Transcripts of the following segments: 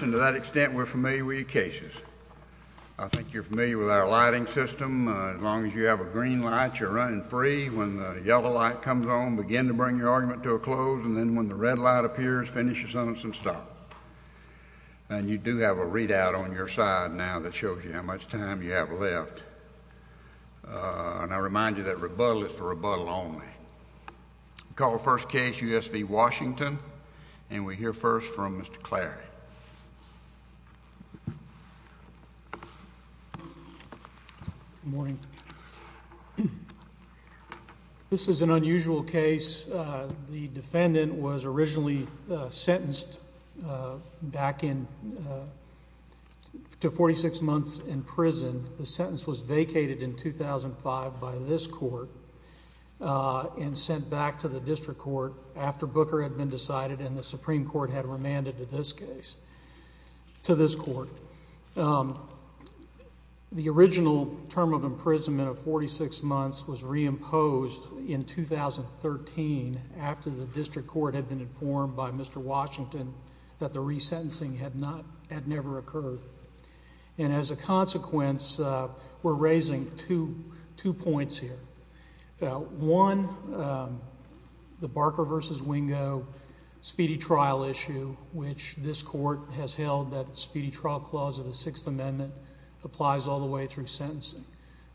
And to that extent, we're familiar with your cases. I think you're familiar with our lighting system. As long as you have a green light, you're running free. When the yellow light comes on, begin to bring your argument to a close. And then when the red light appears, finish your sentence and stop. And you do have a readout on your side now that shows you how much time you have left. And I remind you that rebuttal is for rebuttal only. We call the first case U.S. v. Washington. And we hear first from Mr. Clary. Good morning. This is an unusual case. The defendant was originally sentenced back to 46 months in prison. The sentence was vacated in 2005 by this court and sent back to the district court after Booker had been decided and the Supreme Court had remanded to this case, to this court. The original term of imprisonment of 46 months was reimposed in 2013 after the district court had been informed by Mr. Washington that the resentencing had never occurred. And as a consequence, we're raising two points here. One, the Barker v. Wingo speedy trial issue, which this court has held that speedy trial clause of the Sixth Amendment applies all the way through sentencing.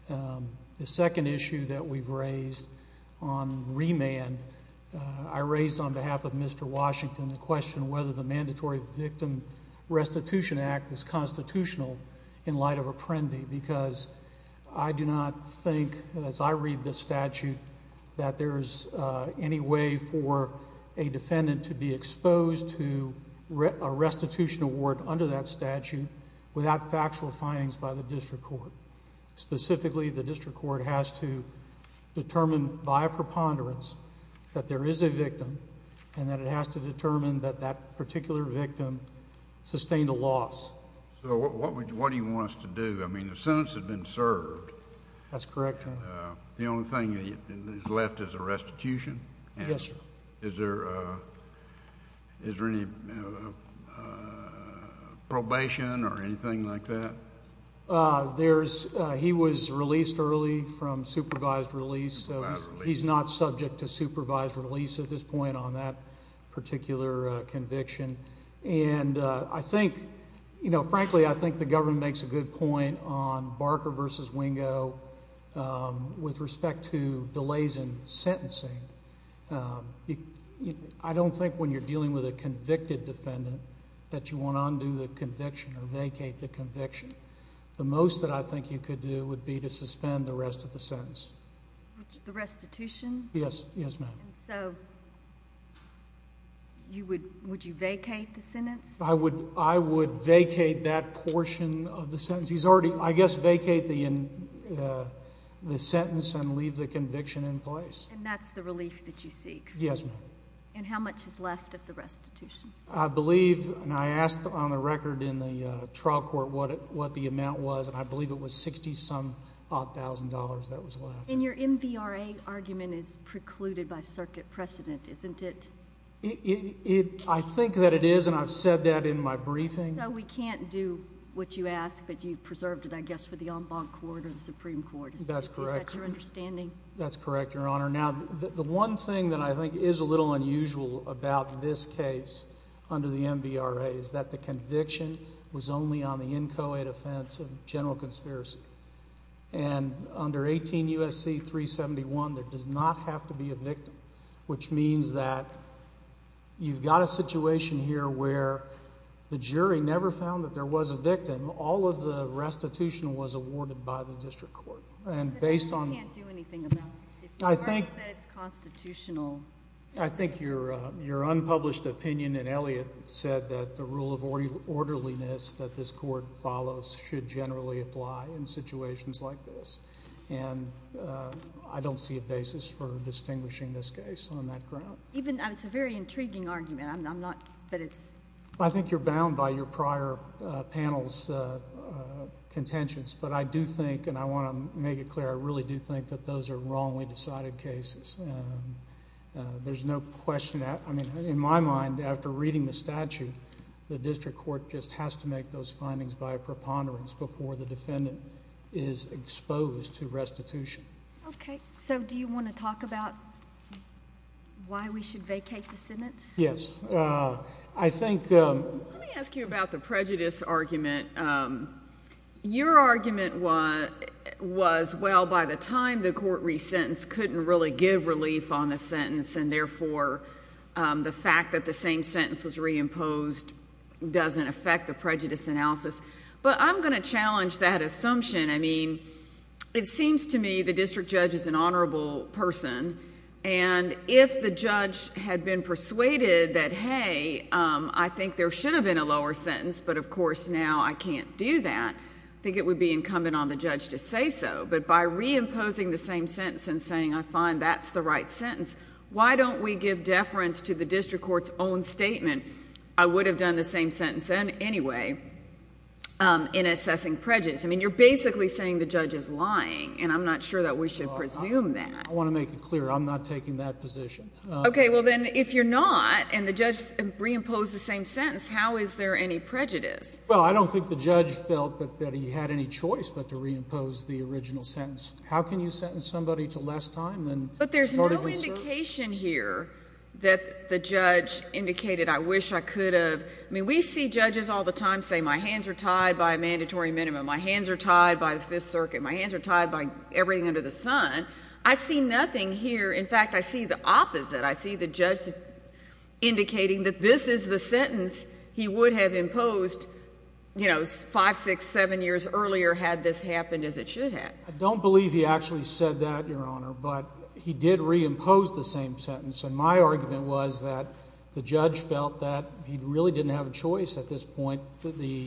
The second issue that we've raised on remand, I raised on behalf of Mr. Washington the question whether the Mandatory Victim Restitution Act is constitutional in light of Apprendi because I do not think, as I read this statute, that there is any way for a defendant to be exposed to a restitution award under that statute without factual findings by the district court. Specifically, the district court has to determine by a preponderance that there is a victim and that it has to determine that that particular victim sustained a loss. So what do you want us to do? I mean, the sentence has been served. That's correct, Your Honor. The only thing that's left is a restitution? Yes, sir. Is there any probation or anything like that? He was released early from supervised release. So he's not subject to supervised release at this point on that particular conviction. And I think, you know, frankly, I think the government makes a good point on Barker v. Wingo with respect to delays in sentencing. I don't think when you're dealing with a convicted defendant that you want to undo the conviction or vacate the conviction. The most that I think you could do would be to suspend the rest of the sentence. The restitution? Yes, ma'am. And so would you vacate the sentence? I would vacate that portion of the sentence. I guess vacate the sentence and leave the conviction in place. And that's the relief that you seek? Yes, ma'am. And how much is left of the restitution? I believe, and I asked on the record in the trial court what the amount was, and I believe it was $60-some-odd thousand dollars that was left. And your MVRA argument is precluded by circuit precedent, isn't it? I think that it is, and I've said that in my briefing. So we can't do what you ask, but you've preserved it, I guess, for the en banc court or the Supreme Court. That's correct. Is that your understanding? That's correct, Your Honor. Now, the one thing that I think is a little unusual about this case under the MVRA is that the conviction was only on the in co-ed offense of general conspiracy. And under 18 U.S.C. 371, there does not have to be a victim, which means that you've got a situation here where the jury never found that there was a victim. All of the restitution was awarded by the district court. You can't do anything about it. If the court said it's constitutional. I think your unpublished opinion in Elliott said that the rule of orderliness that this court follows should generally apply in situations like this, and I don't see a basis for distinguishing this case on that ground. It's a very intriguing argument. I think you're bound by your prior panel's contentions, but I do think, and I want to make it clear, I really do think that those are wrongly decided cases. There's no question. I mean, in my mind, after reading the statute, the district court just has to make those findings by a preponderance before the defendant is exposed to restitution. Okay. So do you want to talk about why we should vacate the sentence? Yes. I think... Let me ask you about the prejudice argument. Your argument was, well, by the time the court resentenced, couldn't really give relief on the sentence, and therefore the fact that the same sentence was reimposed doesn't affect the prejudice analysis. But I'm going to challenge that assumption. I mean, it seems to me the district judge is an honorable person, and if the judge had been persuaded that, hey, I think there should have been a lower sentence, but of course now I can't do that, I think it would be incumbent on the judge to say so. But by reimposing the same sentence and saying, I find that's the right sentence, why don't we give deference to the district court's own statement, I would have done the same sentence anyway, in assessing prejudice? I mean, you're basically saying the judge is lying, and I'm not sure that we should presume that. I want to make it clear I'm not taking that position. Okay. Well, then, if you're not, and the judge reimposed the same sentence, how is there any prejudice? Well, I don't think the judge felt that he had any choice but to reimpose the original sentence. How can you sentence somebody to less time than started with the judge? But there's no indication here that the judge indicated I wish I could have. I mean, we see judges all the time say my hands are tied by a mandatory minimum, my hands are tied by the Fifth Circuit, my hands are tied by everything under the sun. I see nothing here. In fact, I see the opposite. I see the judge indicating that this is the sentence he would have imposed, you know, five, six, seven years earlier had this happened as it should have. I don't believe he actually said that, Your Honor, but he did reimpose the same sentence, and my argument was that the judge felt that he really didn't have a choice at this point. The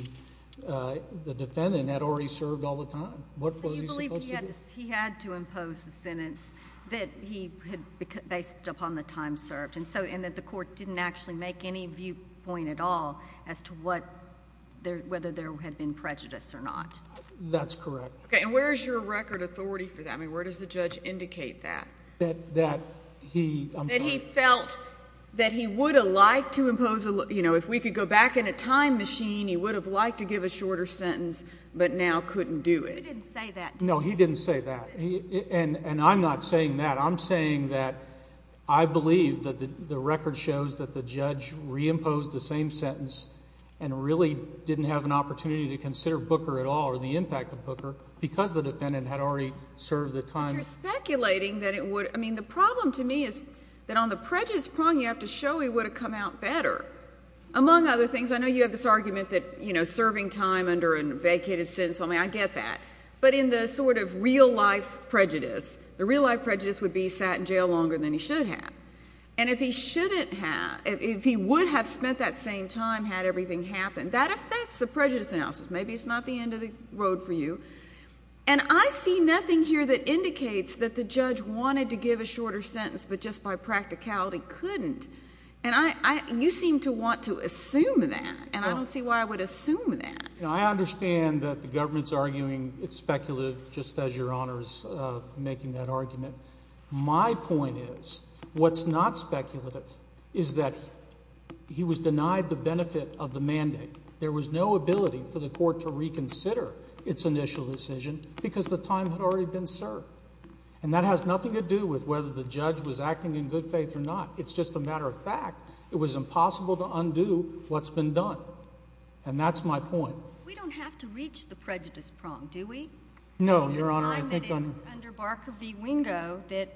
defendant had already served all the time. What was he supposed to do? He had to impose the sentence that he had based upon the time served and that the court didn't actually make any viewpoint at all as to whether there had been prejudice or not. That's correct. Okay, and where is your record authority for that? I mean, where does the judge indicate that? That he felt that he would have liked to impose, you know, if we could go back in a time machine, he would have liked to give a shorter sentence but now couldn't do it. He didn't say that. No, he didn't say that, and I'm not saying that. I'm saying that I believe that the record shows that the judge reimposed the same sentence and really didn't have an opportunity to consider Booker at all or the impact of Booker because the defendant had already served the time. But you're speculating that it would. I mean, the problem to me is that on the prejudice prong you have to show he would have come out better. Among other things, I know you have this argument that, you know, but in the sort of real-life prejudice, the real-life prejudice would be he sat in jail longer than he should have. And if he shouldn't have, if he would have spent that same time, had everything happened, that affects the prejudice analysis. Maybe it's not the end of the road for you. And I see nothing here that indicates that the judge wanted to give a shorter sentence but just by practicality couldn't, and you seem to want to assume that, and I don't see why I would assume that. I understand that the government is arguing it's speculative, just as Your Honor is making that argument. My point is what's not speculative is that he was denied the benefit of the mandate. There was no ability for the court to reconsider its initial decision because the time had already been served. And that has nothing to do with whether the judge was acting in good faith or not. It's just a matter of fact. It was impossible to undo what's been done. And that's my point. We don't have to reach the prejudice prong, do we? No, Your Honor. I think under Barker v. Wingo that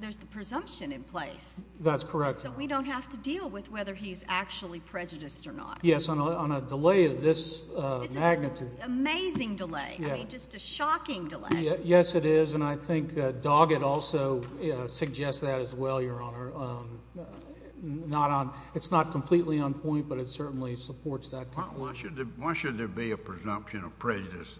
there's the presumption in place. That's correct. So we don't have to deal with whether he's actually prejudiced or not. Yes, on a delay of this magnitude. It's an amazing delay, I mean just a shocking delay. Yes, it is, and I think Doggett also suggests that as well, Your Honor. It's not completely on point, but it certainly supports that. Why should there be a presumption of prejudice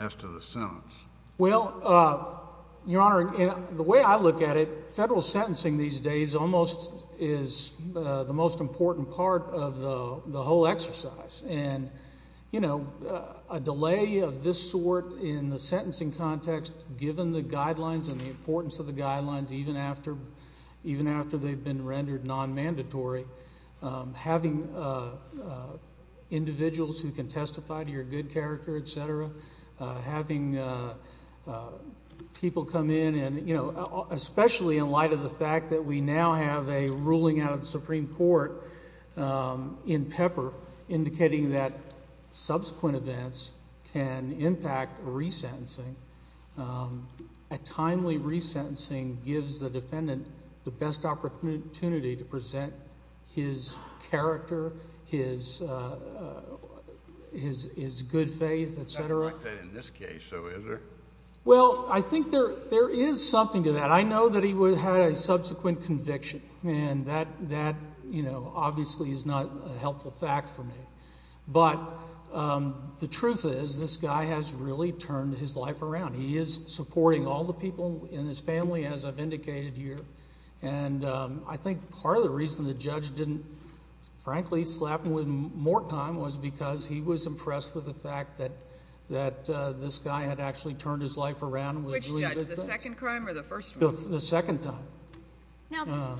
as to the sentence? Well, Your Honor, the way I look at it, federal sentencing these days almost is the most important part of the whole exercise. And, you know, a delay of this sort in the sentencing context, given the guidelines and the importance of the guidelines, even after they've been rendered non-mandatory, having individuals who can testify to your good character, et cetera, having people come in and, you know, especially in light of the fact that we now have a ruling out of the Supreme Court in Pepper indicating that subsequent events can impact resentencing. A timely resentencing gives the defendant the best opportunity to present his character, his good faith, et cetera. It's not like that in this case, though, is there? Well, I think there is something to that. I know that he had a subsequent conviction, and that, you know, obviously is not a helpful fact for me. But the truth is this guy has really turned his life around. He is supporting all the people in his family, as I've indicated here. And I think part of the reason the judge didn't, frankly, slap him with more time was because he was impressed with the fact that this guy had actually turned his life around. Which judge, the second crime or the first one? The second time. Now,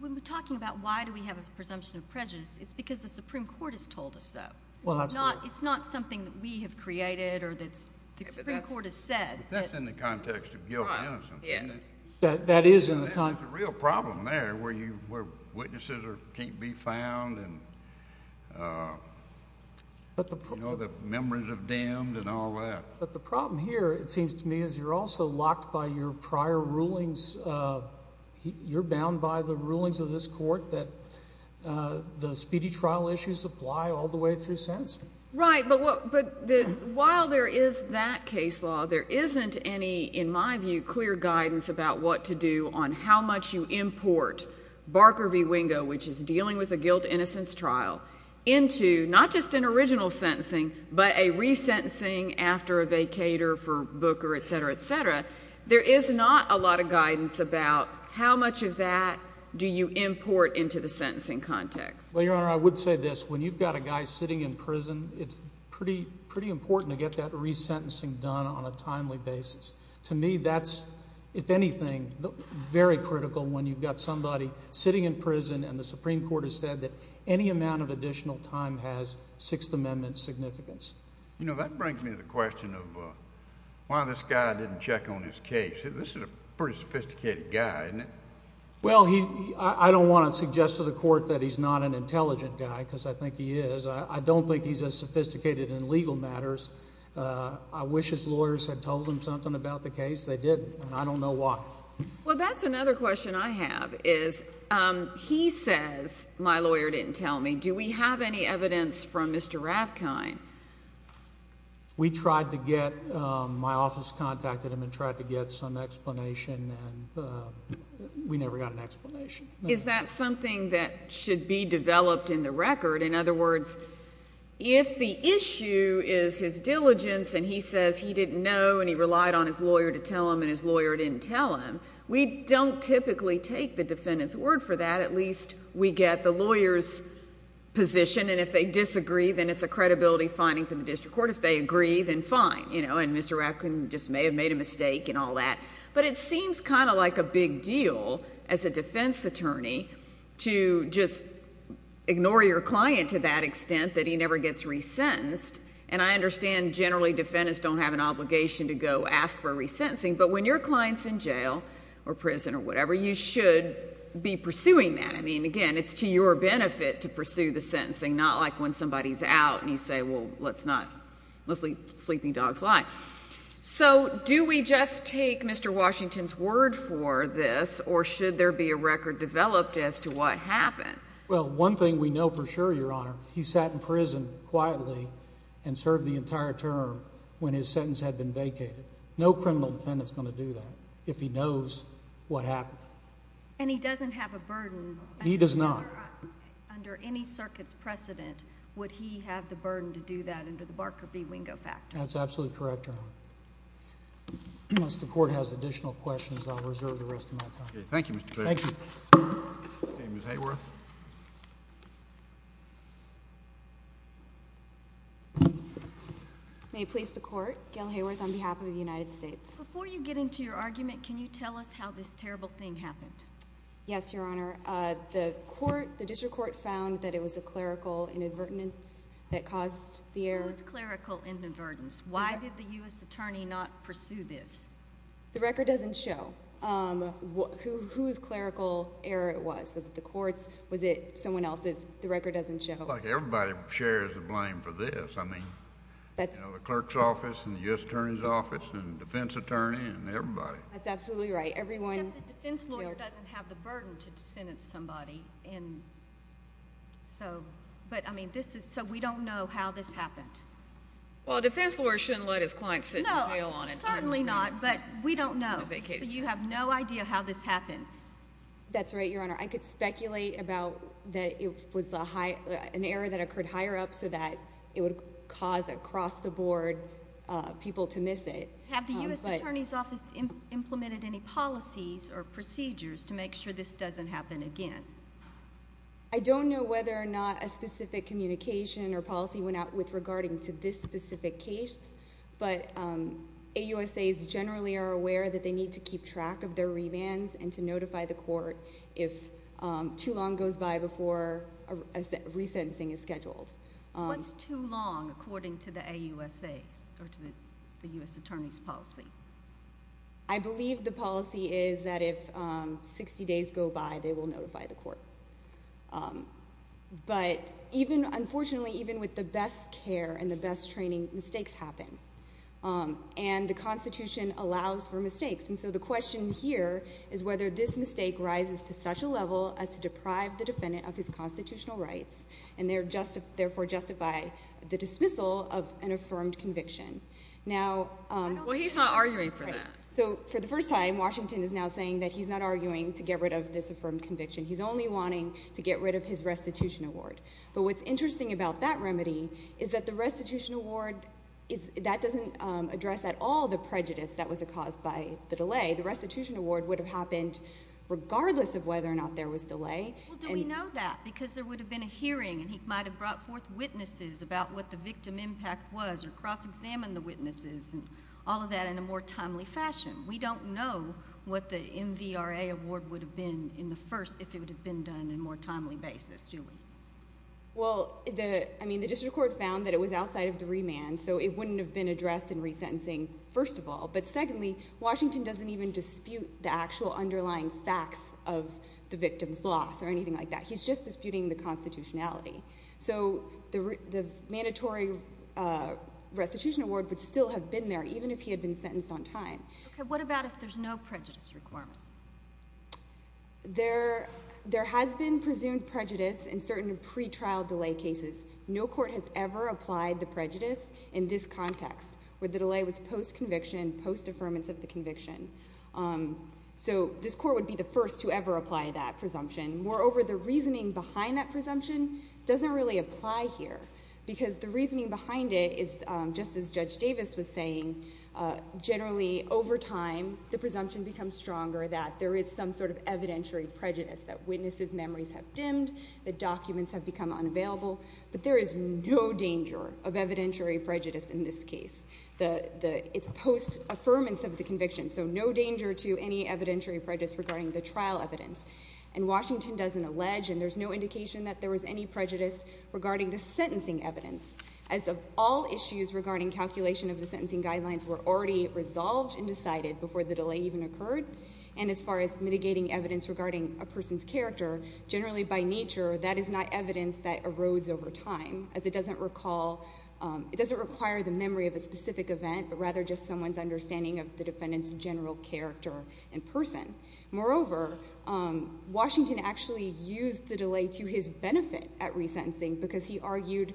when we're talking about why do we have a presumption of prejudice, it's because the Supreme Court has told us so. Well, that's right. It's not something that we have created or that the Supreme Court has said. That's in the context of guilt and innocence, isn't it? Yes. That is in the context. There's a real problem there where witnesses can't be found and, you know, the memories of damned and all that. But the problem here, it seems to me, is you're also locked by your prior rulings. You're bound by the rulings of this court that the speedy trial issues apply all the way through sentencing. Right. But while there is that case law, there isn't any, in my view, clear guidance about what to do on how much you import Barker v. Wingo, which is dealing with a guilt-innocence trial, into not just an original sentencing but a resentencing after a vacator for Booker, etc., etc., there is not a lot of guidance about how much of that do you import into the sentencing context. Well, Your Honor, I would say this. When you've got a guy sitting in prison, it's pretty important to get that resentencing done on a timely basis. To me, that's, if anything, very critical when you've got somebody sitting in prison and the Supreme Court has said that any amount of additional time has Sixth Amendment significance. You know, that brings me to the question of why this guy didn't check on his case. This is a pretty sophisticated guy, isn't it? Well, I don't want to suggest to the court that he's not an intelligent guy because I think he is. I don't think he's as sophisticated in legal matters. I wish his lawyers had told him something about the case. They didn't, and I don't know why. Well, that's another question I have is, he says, my lawyer didn't tell me. Do we have any evidence from Mr. Ravkind? We tried to get, my office contacted him and tried to get some explanation, and we never got an explanation. Is that something that should be developed in the record? In other words, if the issue is his diligence and he says he didn't know and he relied on his lawyer to tell him and his lawyer didn't tell him, we don't typically take the defendant's word for that. At least we get the lawyer's position, and if they disagree, then it's a credibility finding for the district court. If they agree, then fine, you know, and Mr. Ravkind just may have made a mistake and all that. But it seems kind of like a big deal as a defense attorney to just ignore your client to that extent that he never gets resentenced, and I understand generally defendants don't have an obligation to go ask for a resentencing, but when your client's in jail or prison or whatever, you should be pursuing that. I mean, again, it's to your benefit to pursue the sentencing, not like when somebody's out and you say, well, let's not, let's let sleeping dogs lie. So do we just take Mr. Washington's word for this, or should there be a record developed as to what happened? Well, one thing we know for sure, Your Honor, he sat in prison quietly and served the entire term when his sentence had been vacated. No criminal defendant's going to do that if he knows what happened. And he doesn't have a burden? He does not. Under any circuit's precedent, would he have the burden to do that under the Barker v. Wingo factor? That's absolutely correct, Your Honor. Unless the Court has additional questions, I'll reserve the rest of my time. Thank you, Mr. Clarence. Thank you. Ms. Hayworth. May it please the Court, Gail Hayworth on behalf of the United States. Before you get into your argument, can you tell us how this terrible thing happened? Yes, Your Honor. The District Court found that it was a clerical inadvertence that caused the error. It was clerical inadvertence. Why did the U.S. attorney not pursue this? The record doesn't show whose clerical error it was. Was it the Court's? Was it someone else's? The record doesn't show. Everybody shares the blame for this. I mean, the clerk's office and the U.S. attorney's office and the defense attorney and everybody. That's absolutely right. Except the defense lawyer doesn't have the burden to sentence somebody. But, I mean, so we don't know how this happened. Well, a defense lawyer shouldn't let his client sit in jail on a time when he was on a vacation. No, certainly not, but we don't know. So you have no idea how this happened. That's right, Your Honor. I could speculate about that it was an error that occurred higher up so that it would cause across the board people to miss it. Have the U.S. attorney's office implemented any policies or procedures to make sure this doesn't happen again? I don't know whether or not a specific communication or policy went out with regarding to this specific case, but AUSAs generally are aware that they need to keep track of their rebands and to notify the court if too long goes by before a resentencing is scheduled. What's too long according to the AUSAs or to the U.S. attorney's policy? I believe the policy is that if 60 days go by, they will notify the court. But even, unfortunately, even with the best care and the best training, mistakes happen. And the Constitution allows for mistakes. And so the question here is whether this mistake rises to such a level as to deprive the defendant of his constitutional rights and therefore justify the dismissal of an affirmed conviction. Well, he's not arguing for that. So for the first time, Washington is now saying that he's not arguing to get rid of this affirmed conviction. He's only wanting to get rid of his restitution award. But what's interesting about that remedy is that the restitution award, that doesn't address at all the prejudice that was caused by the delay. The restitution award would have happened regardless of whether or not there was delay. Well, do we know that? Because there would have been a hearing, and he might have brought forth witnesses about what the victim impact was or cross-examined the witnesses and all of that in a more timely fashion. We don't know what the MVRA award would have been in the first if it would have been done in a more timely basis. Julie? Well, I mean, the district court found that it was outside of the remand, so it wouldn't have been addressed in resentencing, first of all. But secondly, Washington doesn't even dispute the actual underlying facts of the victim's loss or anything like that. He's just disputing the constitutionality. So the mandatory restitution award would still have been there even if he had been sentenced on time. Okay. What about if there's no prejudice requirement? There has been presumed prejudice in certain pretrial delay cases. No court has ever applied the prejudice in this context where the delay was post-conviction, post-affirmance of the conviction. So this court would be the first to ever apply that presumption. Moreover, the reasoning behind that presumption doesn't really apply here, because the reasoning behind it is, just as Judge Davis was saying, generally over time the presumption becomes stronger that there is some sort of evidentiary prejudice, that witnesses' memories have dimmed, that documents have become unavailable. But there is no danger of evidentiary prejudice in this case. It's post-affirmance of the conviction, so no danger to any evidentiary prejudice regarding the trial evidence. And Washington doesn't allege, and there's no indication that there was any prejudice regarding the sentencing evidence. As of all issues regarding calculation of the sentencing guidelines, were already resolved and decided before the delay even occurred. And as far as mitigating evidence regarding a person's character, generally by nature that is not evidence that arose over time, as it doesn't require the memory of a specific event, but rather just someone's understanding of the defendant's general character and person. Moreover, Washington actually used the delay to his benefit at resentencing, because he argued,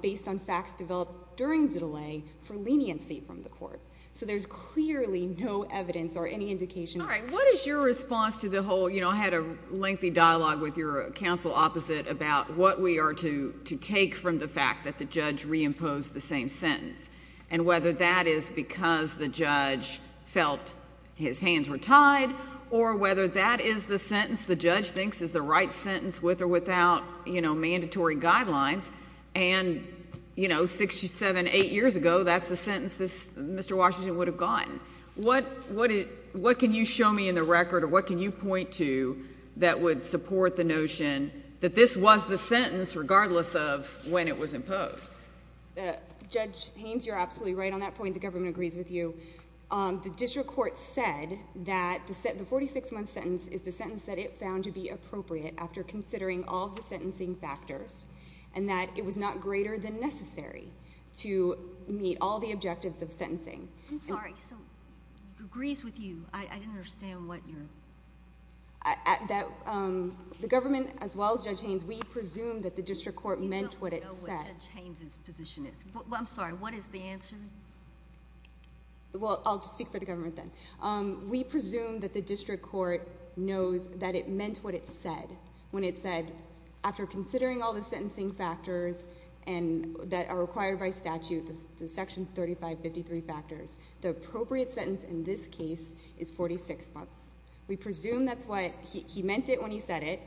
based on facts developed during the delay, for leniency from the court. So there's clearly no evidence or any indication. All right, what is your response to the whole, you know, I had a lengthy dialogue with your counsel opposite about what we are to take from the fact that the judge reimposed the same sentence, and whether that is because the judge felt his hands were tied, or whether that is the sentence the judge thinks is the right sentence with or without, you know, mandatory guidelines. And, you know, six, seven, eight years ago, that's the sentence Mr. Washington would have gotten. What can you show me in the record, or what can you point to, that would support the notion that this was the sentence, regardless of when it was imposed? Judge Haynes, you're absolutely right on that point. The government agrees with you. The district court said that the 46-month sentence is the sentence that it found to be appropriate after considering all of the sentencing factors, and that it was not greater than necessary to meet all the objectives of sentencing. I'm sorry, so it agrees with you. I didn't understand what you're... The government, as well as Judge Haynes, we presume that the district court meant what it said. I don't know what Judge Haynes' position is. I'm sorry, what is the answer? Well, I'll just speak for the government then. We presume that the district court knows that it meant what it said, when it said, after considering all the sentencing factors that are required by statute, the section 3553 factors, the appropriate sentence in this case is 46 months. We presume that's what he meant it when he said it,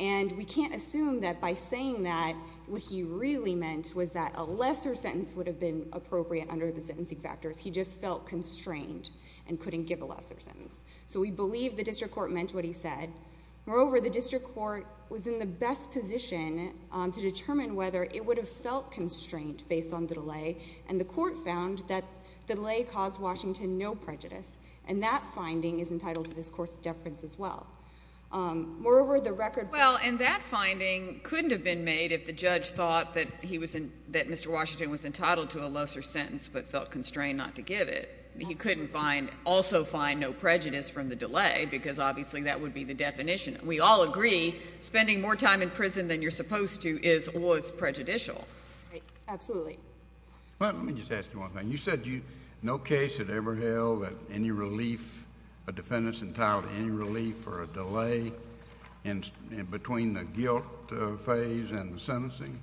and we can't assume that by saying that what he really meant was that a lesser sentence would have been appropriate under the sentencing factors. He just felt constrained and couldn't give a lesser sentence. So we believe the district court meant what he said. Moreover, the district court was in the best position to determine whether it would have felt constrained based on the delay, and the court found that the delay caused Washington no prejudice, and that finding is entitled to this Court's deference as well. Moreover, the record... Well, and that finding couldn't have been made if the judge thought that Mr. Washington was entitled to a lesser sentence but felt constrained not to give it. He couldn't also find no prejudice from the delay because obviously that would be the definition. We all agree spending more time in prison than you're supposed to was prejudicial. Absolutely. Let me just ask you one thing. You said no case had ever held that any relief, or a delay between the guilt phase and the sentencing?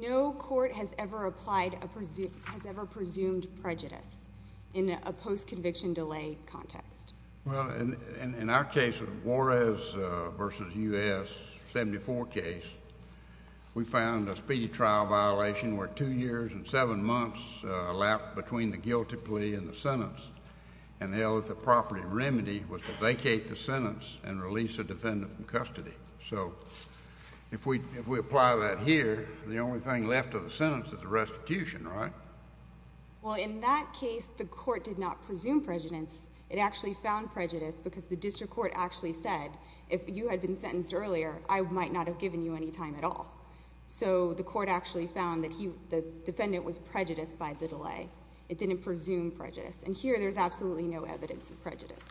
No court has ever presumed prejudice in a post-conviction delay context. Well, in our case, Juarez v. U.S., 74 case, we found a speedy trial violation where 2 years and 7 months lapped between the guilty plea and the sentence, and held that the proper remedy was to vacate the sentence and release the defendant from custody. So if we apply that here, the only thing left of the sentence is the restitution, right? Well, in that case, the court did not presume prejudice. It actually found prejudice because the district court actually said, if you had been sentenced earlier, I might not have given you any time at all. So the court actually found that the defendant was prejudiced by the delay. It didn't presume prejudice. And here, there's absolutely no evidence of prejudice.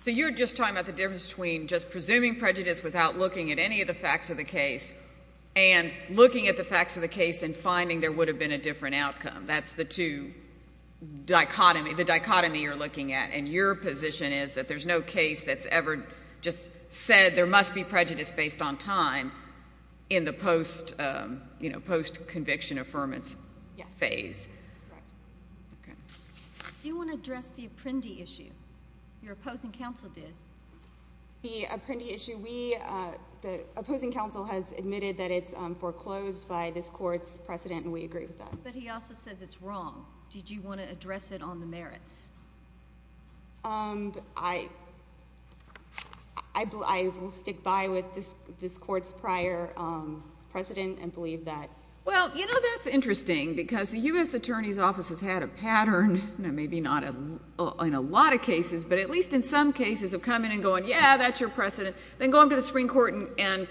So you're just talking about the difference between just presuming prejudice without looking at any of the facts of the case and looking at the facts of the case and finding there would have been a different outcome. That's the two dichotomy you're looking at. And your position is that there's no case that's ever just said there must be prejudice based on time in the post-conviction affirmance phase. Yes. Do you want to address the Apprendi issue? Your opposing counsel did. The Apprendi issue. The opposing counsel has admitted that it's foreclosed by this court's precedent, and we agree with that. But he also says it's wrong. Did you want to address it on the merits? I will stick by with this court's prior precedent and believe that. Well, you know, that's interesting because the U.S. Attorney's Office has had a pattern, maybe not in a lot of cases, but at least in some cases, of coming and going, yeah, that's your precedent, then going to the Supreme Court and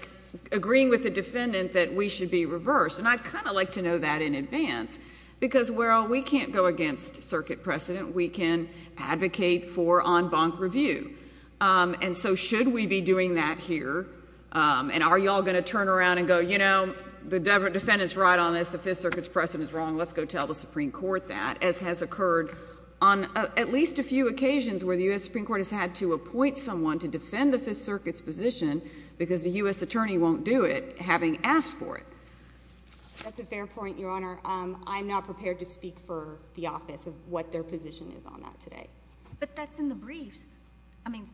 agreeing with the defendant that we should be reversed. And I'd kind of like to know that in advance because, well, we can't go against circuit precedent. We can advocate for en banc review. And so should we be doing that here? And are you all going to turn around and go, you know, the defendant's right on this, the Fifth Circuit's precedent is wrong, let's go tell the Supreme Court that, as has occurred on at least a few occasions where the U.S. Supreme Court has had to appoint someone to defend the Fifth Circuit's position because the U.S. Attorney won't do it, having asked for it? That's a fair point, Your Honor. I'm not prepared to speak for the office of what their position is on that today. But that's in the briefs. I mean,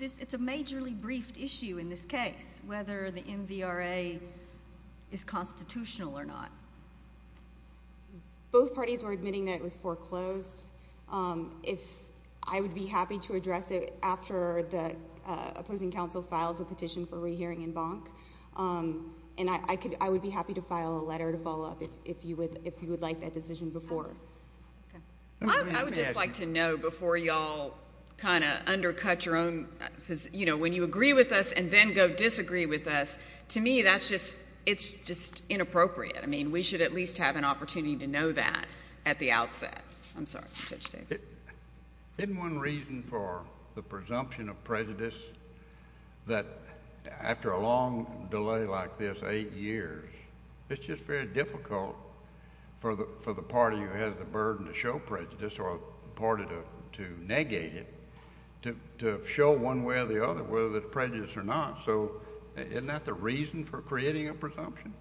it's a majorly briefed issue in this case, whether the MVRA is constitutional or not. Both parties were admitting that it was foreclosed. I would be happy to address it after the opposing counsel files a petition for rehearing en banc. And I would be happy to file a letter to follow up if you would like that decision before. I would just like to know before you all kind of undercut your own, you know, when you agree with us and then go disagree with us, to me that's just, it's just inappropriate. I mean, we should at least have an opportunity to know that at the outset. I'm sorry, Judge David. Isn't one reason for the presumption of prejudice that after a long delay like this, eight years, it's just very difficult for the party who has the burden to show prejudice or the party to negate it to show one way or the other whether there's prejudice or not. So isn't that the reason for creating a presumption?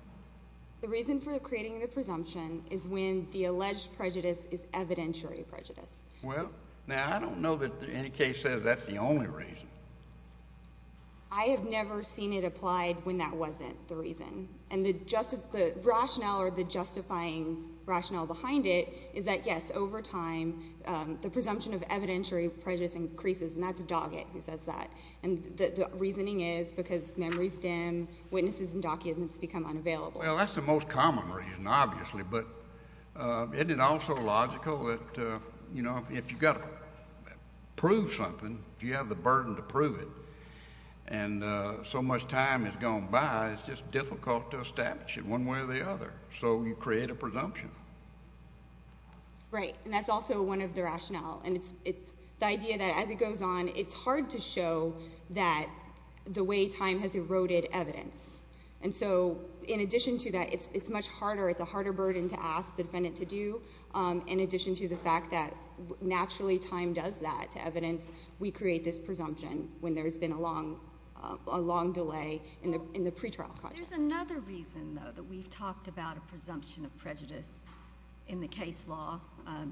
The reason for creating the presumption is when the alleged prejudice is evidentiary prejudice. Well, now I don't know that any case says that's the only reason. I have never seen it applied when that wasn't the reason. And the rationale or the justifying rationale behind it is that, yes, over time the presumption of evidentiary prejudice increases, and that's Doggett who says that. And the reasoning is because memories dim, witnesses and documents become unavailable. Well, that's the most common reason, obviously. But isn't it also logical that, you know, if you've got to prove something, if you have the burden to prove it and so much time has gone by, it's just difficult to establish it one way or the other. So you create a presumption. Right, and that's also one of the rationale. And it's the idea that as it goes on, it's hard to show that the way time has eroded evidence. And so in addition to that, it's much harder. It's a harder burden to ask the defendant to do. In addition to the fact that naturally time does that to evidence, we create this presumption when there's been a long delay in the pretrial process. There's another reason, though, that we've talked about a presumption of prejudice in the case law,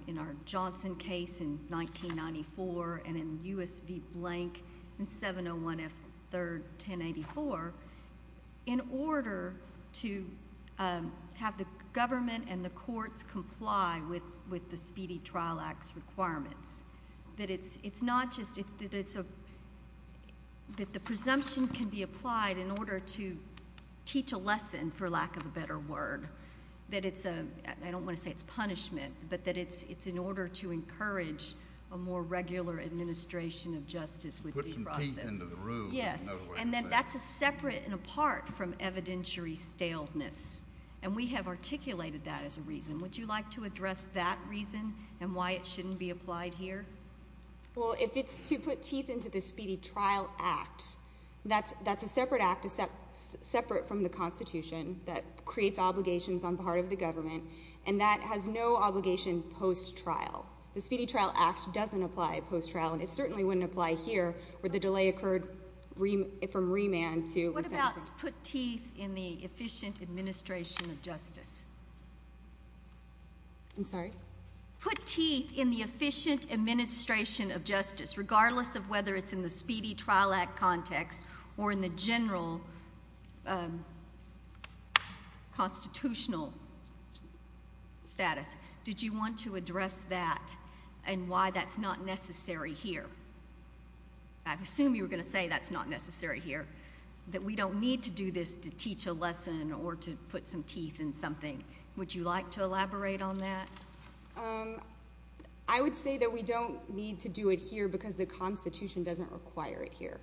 in our Johnson case in 1994 and in U.S. v. Blank in 701 F. 3rd, 1084, in order to have the government and the courts comply with the Speedy Trial Act's requirements. That it's not just, that the presumption can be applied in order to teach a lesson, for lack of a better word. That it's a, I don't want to say it's punishment, but that it's in order to encourage a more regular administration of justice with due process. Put some teeth into the room. Yes, and then that's separate and apart from evidentiary staleness. And we have articulated that as a reason. Would you like to address that reason and why it shouldn't be applied here? Well, if it's to put teeth into the Speedy Trial Act, that's a separate act, separate from the Constitution, that creates obligations on part of the government. And that has no obligation post-trial. The Speedy Trial Act doesn't apply post-trial, and it certainly wouldn't apply here where the delay occurred from remand to assent. What about put teeth in the efficient administration of justice? I'm sorry? Put teeth in the efficient administration of justice, regardless of whether it's in the Speedy Trial Act context or in the general constitutional status. Did you want to address that and why that's not necessary here? I assume you were going to say that's not necessary here, that we don't need to do this to teach a lesson or to put some teeth in something. Would you like to elaborate on that? I would say that we don't need to do it here because the Constitution doesn't require it here.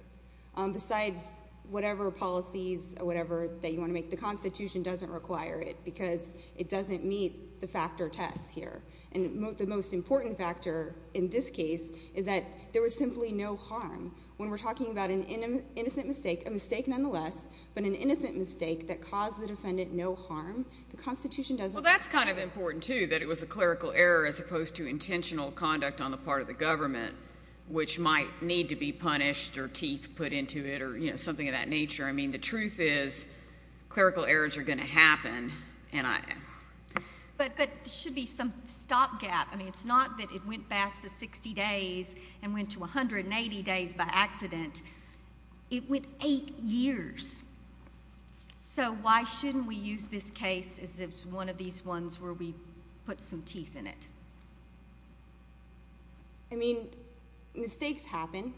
Besides whatever policies or whatever that you want to make, the Constitution doesn't require it because it doesn't meet the factor test here. And the most important factor in this case is that there was simply no harm. When we're talking about an innocent mistake, a mistake nonetheless, but an innocent mistake that caused the defendant no harm, the Constitution doesn't require it. Well, that's kind of important, too, that it was a clerical error as opposed to intentional conduct on the part of the government, which might need to be punished or teeth put into it or something of that nature. I mean, the truth is clerical errors are going to happen. But there should be some stopgap. I mean, it's not that it went past the 60 days and went to 180 days by accident. It went eight years. So why shouldn't we use this case as one of these ones where we put some teeth in it? I mean, mistakes happen,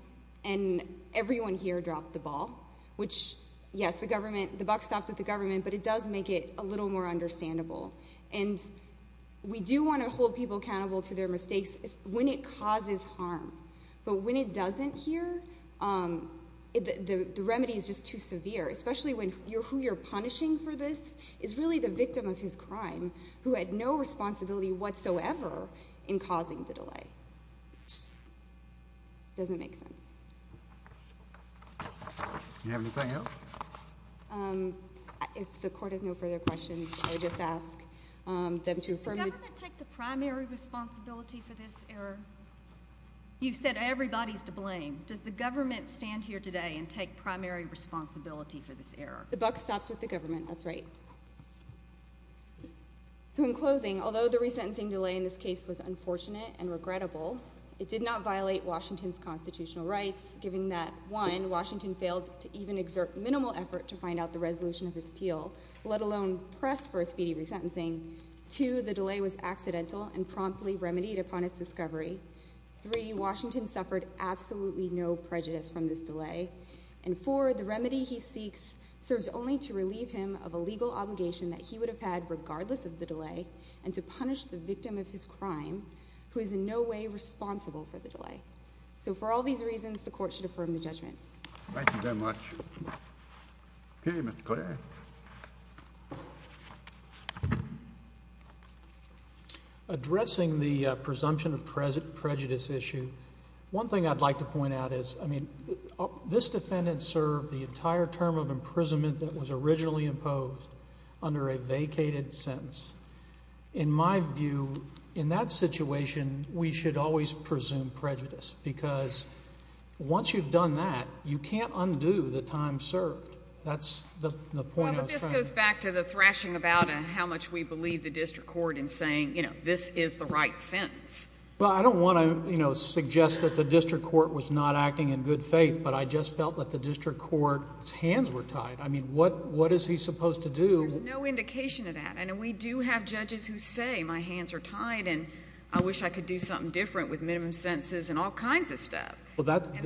and everyone here dropped the ball, which, yes, the buck stops with the government, but it does make it a little more understandable. And we do want to hold people accountable to their mistakes when it causes harm. But when it doesn't here, the remedy is just too severe, especially when who you're punishing for this is really the victim of his crime who had no responsibility whatsoever in causing the delay. It just doesn't make sense. Do you have anything else? If the Court has no further questions, I would just ask them to affirm. Does the government take the primary responsibility for this error? You've said everybody's to blame. The buck stops with the government. That's right. So in closing, although the resentencing delay in this case was unfortunate and regrettable, it did not violate Washington's constitutional rights, given that, one, Washington failed to even exert minimal effort to find out the resolution of his appeal, let alone press for a speedy resentencing. Two, the delay was accidental and promptly remedied upon its discovery. Three, Washington suffered absolutely no prejudice from this delay. And four, the remedy he seeks serves only to relieve him of a legal obligation that he would have had regardless of the delay and to punish the victim of his crime, who is in no way responsible for the delay. So for all these reasons, the Court should affirm the judgment. Thank you very much. Okay, Mr. Clare. Addressing the presumption of prejudice issue, one thing I'd like to point out is, I mean, this defendant served the entire term of imprisonment that was originally imposed under a vacated sentence. In my view, in that situation, we should always presume prejudice because once you've done that, you can't undo the time served. That's the point I was trying to make. Well, but this goes back to the thrashing about how much we believe the district court in saying, you know, this is the right sentence. Well, I don't want to, you know, suggest that the district court was not acting in good faith, but I just felt that the district court's hands were tied. I mean, what is he supposed to do? There's no indication of that, and we do have judges who say my hands are tied and I wish I could do something different with minimum sentences and all kinds of stuff.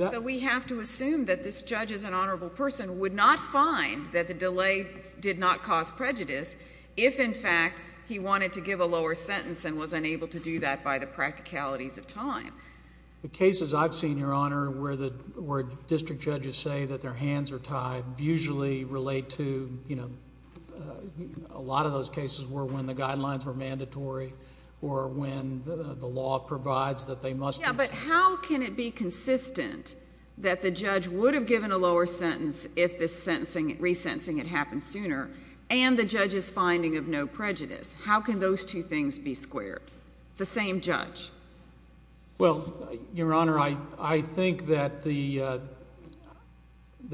So we have to assume that this judge as an honorable person would not find that the delay did not cause prejudice if, in fact, he wanted to give a lower sentence and was unable to do that by the practicalities of time. The cases I've seen, Your Honor, where district judges say that their hands are tied usually relate to, you know, a lot of those cases were when the guidelines were mandatory or when the law provides that they must be sentenced. Yeah, but how can it be consistent that the judge would have given a lower sentence if the resentencing had happened sooner and the judge's finding of no prejudice? How can those two things be squared? It's the same judge. Well, Your Honor, I think that the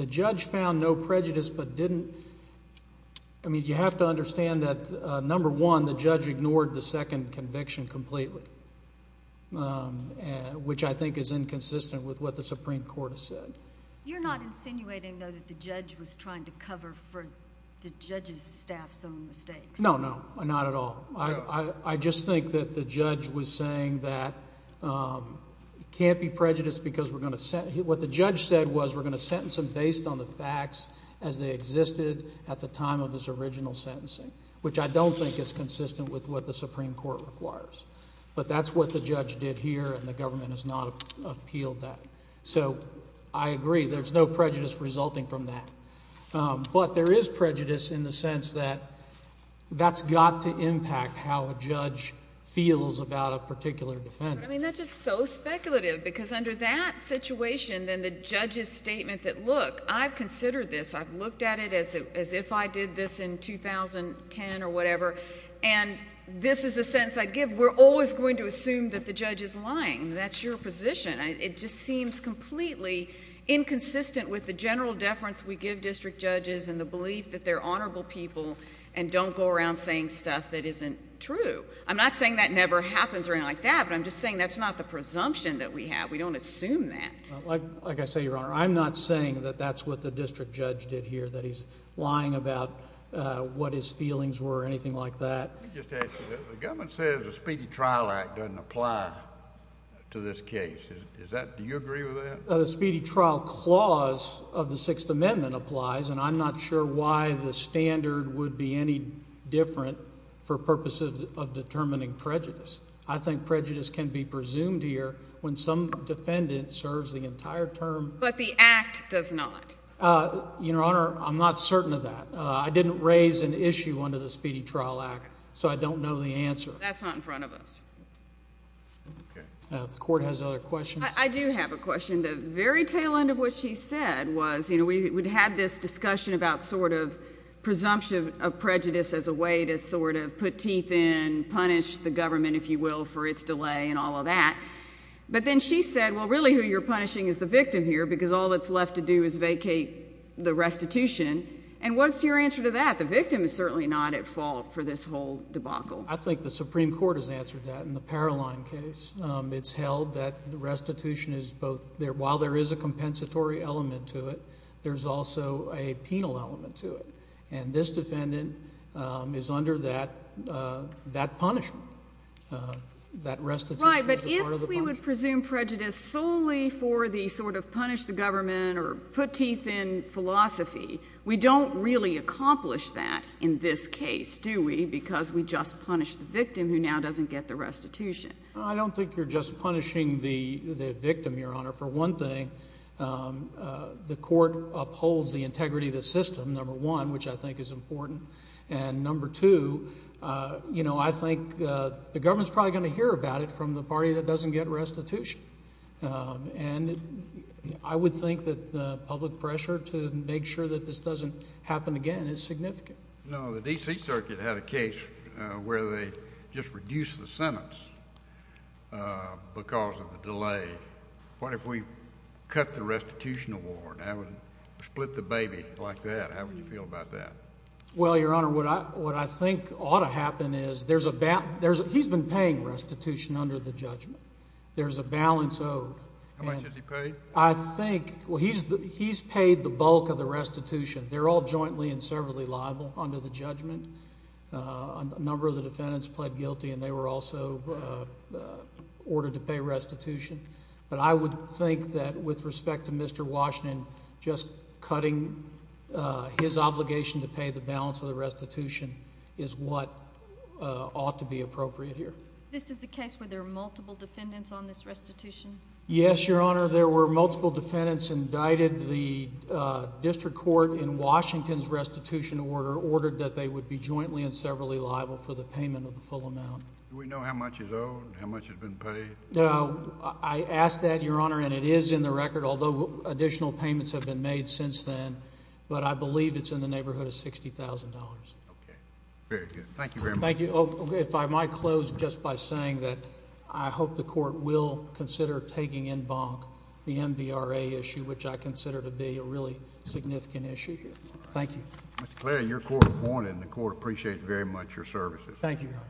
judge found no prejudice but didn't. I mean, you have to understand that, number one, the judge ignored the second conviction completely, which I think is inconsistent with what the Supreme Court has said. You're not insinuating, though, that the judge was trying to cover for the judge's staff's own mistakes? No, no, not at all. I just think that the judge was saying that it can't be prejudice because we're going to sentence him. What the judge said was we're going to sentence him based on the facts as they existed at the time of his original sentencing, which I don't think is consistent with what the Supreme Court requires. But that's what the judge did here, and the government has not appealed that. So I agree, there's no prejudice resulting from that. But there is prejudice in the sense that that's got to impact how a judge feels about a particular defendant. I mean, that's just so speculative because under that situation, then the judge's statement that, look, I've considered this, I've looked at it as if I did this in 2010 or whatever, and this is the sentence I'd give, we're always going to assume that the judge is lying. That's your position. It just seems completely inconsistent with the general deference we give district judges and the belief that they're honorable people and don't go around saying stuff that isn't true. I'm not saying that never happens or anything like that, but I'm just saying that's not the presumption that we have. We don't assume that. Like I say, Your Honor, I'm not saying that that's what the district judge did here, that he's lying about what his feelings were or anything like that. Let me just ask you this. The government says the Speedy Trial Act doesn't apply to this case. Do you agree with that? The Speedy Trial Clause of the Sixth Amendment applies, and I'm not sure why the standard would be any different for purposes of determining prejudice. I think prejudice can be presumed here when some defendant serves the entire term. But the Act does not. Your Honor, I'm not certain of that. I didn't raise an issue under the Speedy Trial Act, so I don't know the answer. That's not in front of us. The court has other questions. I do have a question. The very tail end of what she said was, you know, we had this discussion about sort of presumption of prejudice as a way to sort of put teeth in, punish the government, if you will, for its delay and all of that. But then she said, well, really who you're punishing is the victim here because all that's left to do is vacate the restitution. And what's your answer to that? The victim is certainly not at fault for this whole debacle. I think the Supreme Court has answered that in the Paroline case. It's held that the restitution is both – while there is a compensatory element to it, there's also a penal element to it. And this defendant is under that punishment, that restitution as part of the punishment. Right, but if we would presume prejudice solely for the sort of punish the government or put teeth in philosophy, we don't really accomplish that in this case, do we, because we just punish the victim who now doesn't get the restitution. I don't think you're just punishing the victim, Your Honor. For one thing, the court upholds the integrity of the system, number one, which I think is important. And number two, you know, I think the government is probably going to hear about it from the party that doesn't get restitution. And I would think that the public pressure to make sure that this doesn't happen again is significant. Now, the D.C. Circuit had a case where they just reduced the sentence because of the delay. What if we cut the restitution award? I would split the baby like that. How would you feel about that? Well, Your Honor, what I think ought to happen is there's a – he's been paying restitution under the judgment. There's a balance owed. How much has he paid? I think – well, he's paid the bulk of the restitution. They're all jointly and severally liable under the judgment. A number of the defendants pled guilty, and they were also ordered to pay restitution. But I would think that with respect to Mr. Washington, just cutting his obligation to pay the balance of the restitution is what ought to be appropriate here. This is a case where there are multiple defendants on this restitution? Yes, Your Honor. There were multiple defendants indicted. The district court in Washington's restitution order ordered that they would be jointly and severally liable for the payment of the full amount. Do we know how much is owed and how much has been paid? No. I asked that, Your Honor, and it is in the record, although additional payments have been made since then. But I believe it's in the neighborhood of $60,000. Okay. Very good. Thank you very much. Thank you. If I might close just by saying that I hope the court will consider taking in bonk the MVRA issue, which I consider to be a really significant issue. Thank you. Mr. Cleary, your court appointed, and the court appreciates very much your services. Thank you, Your Honor.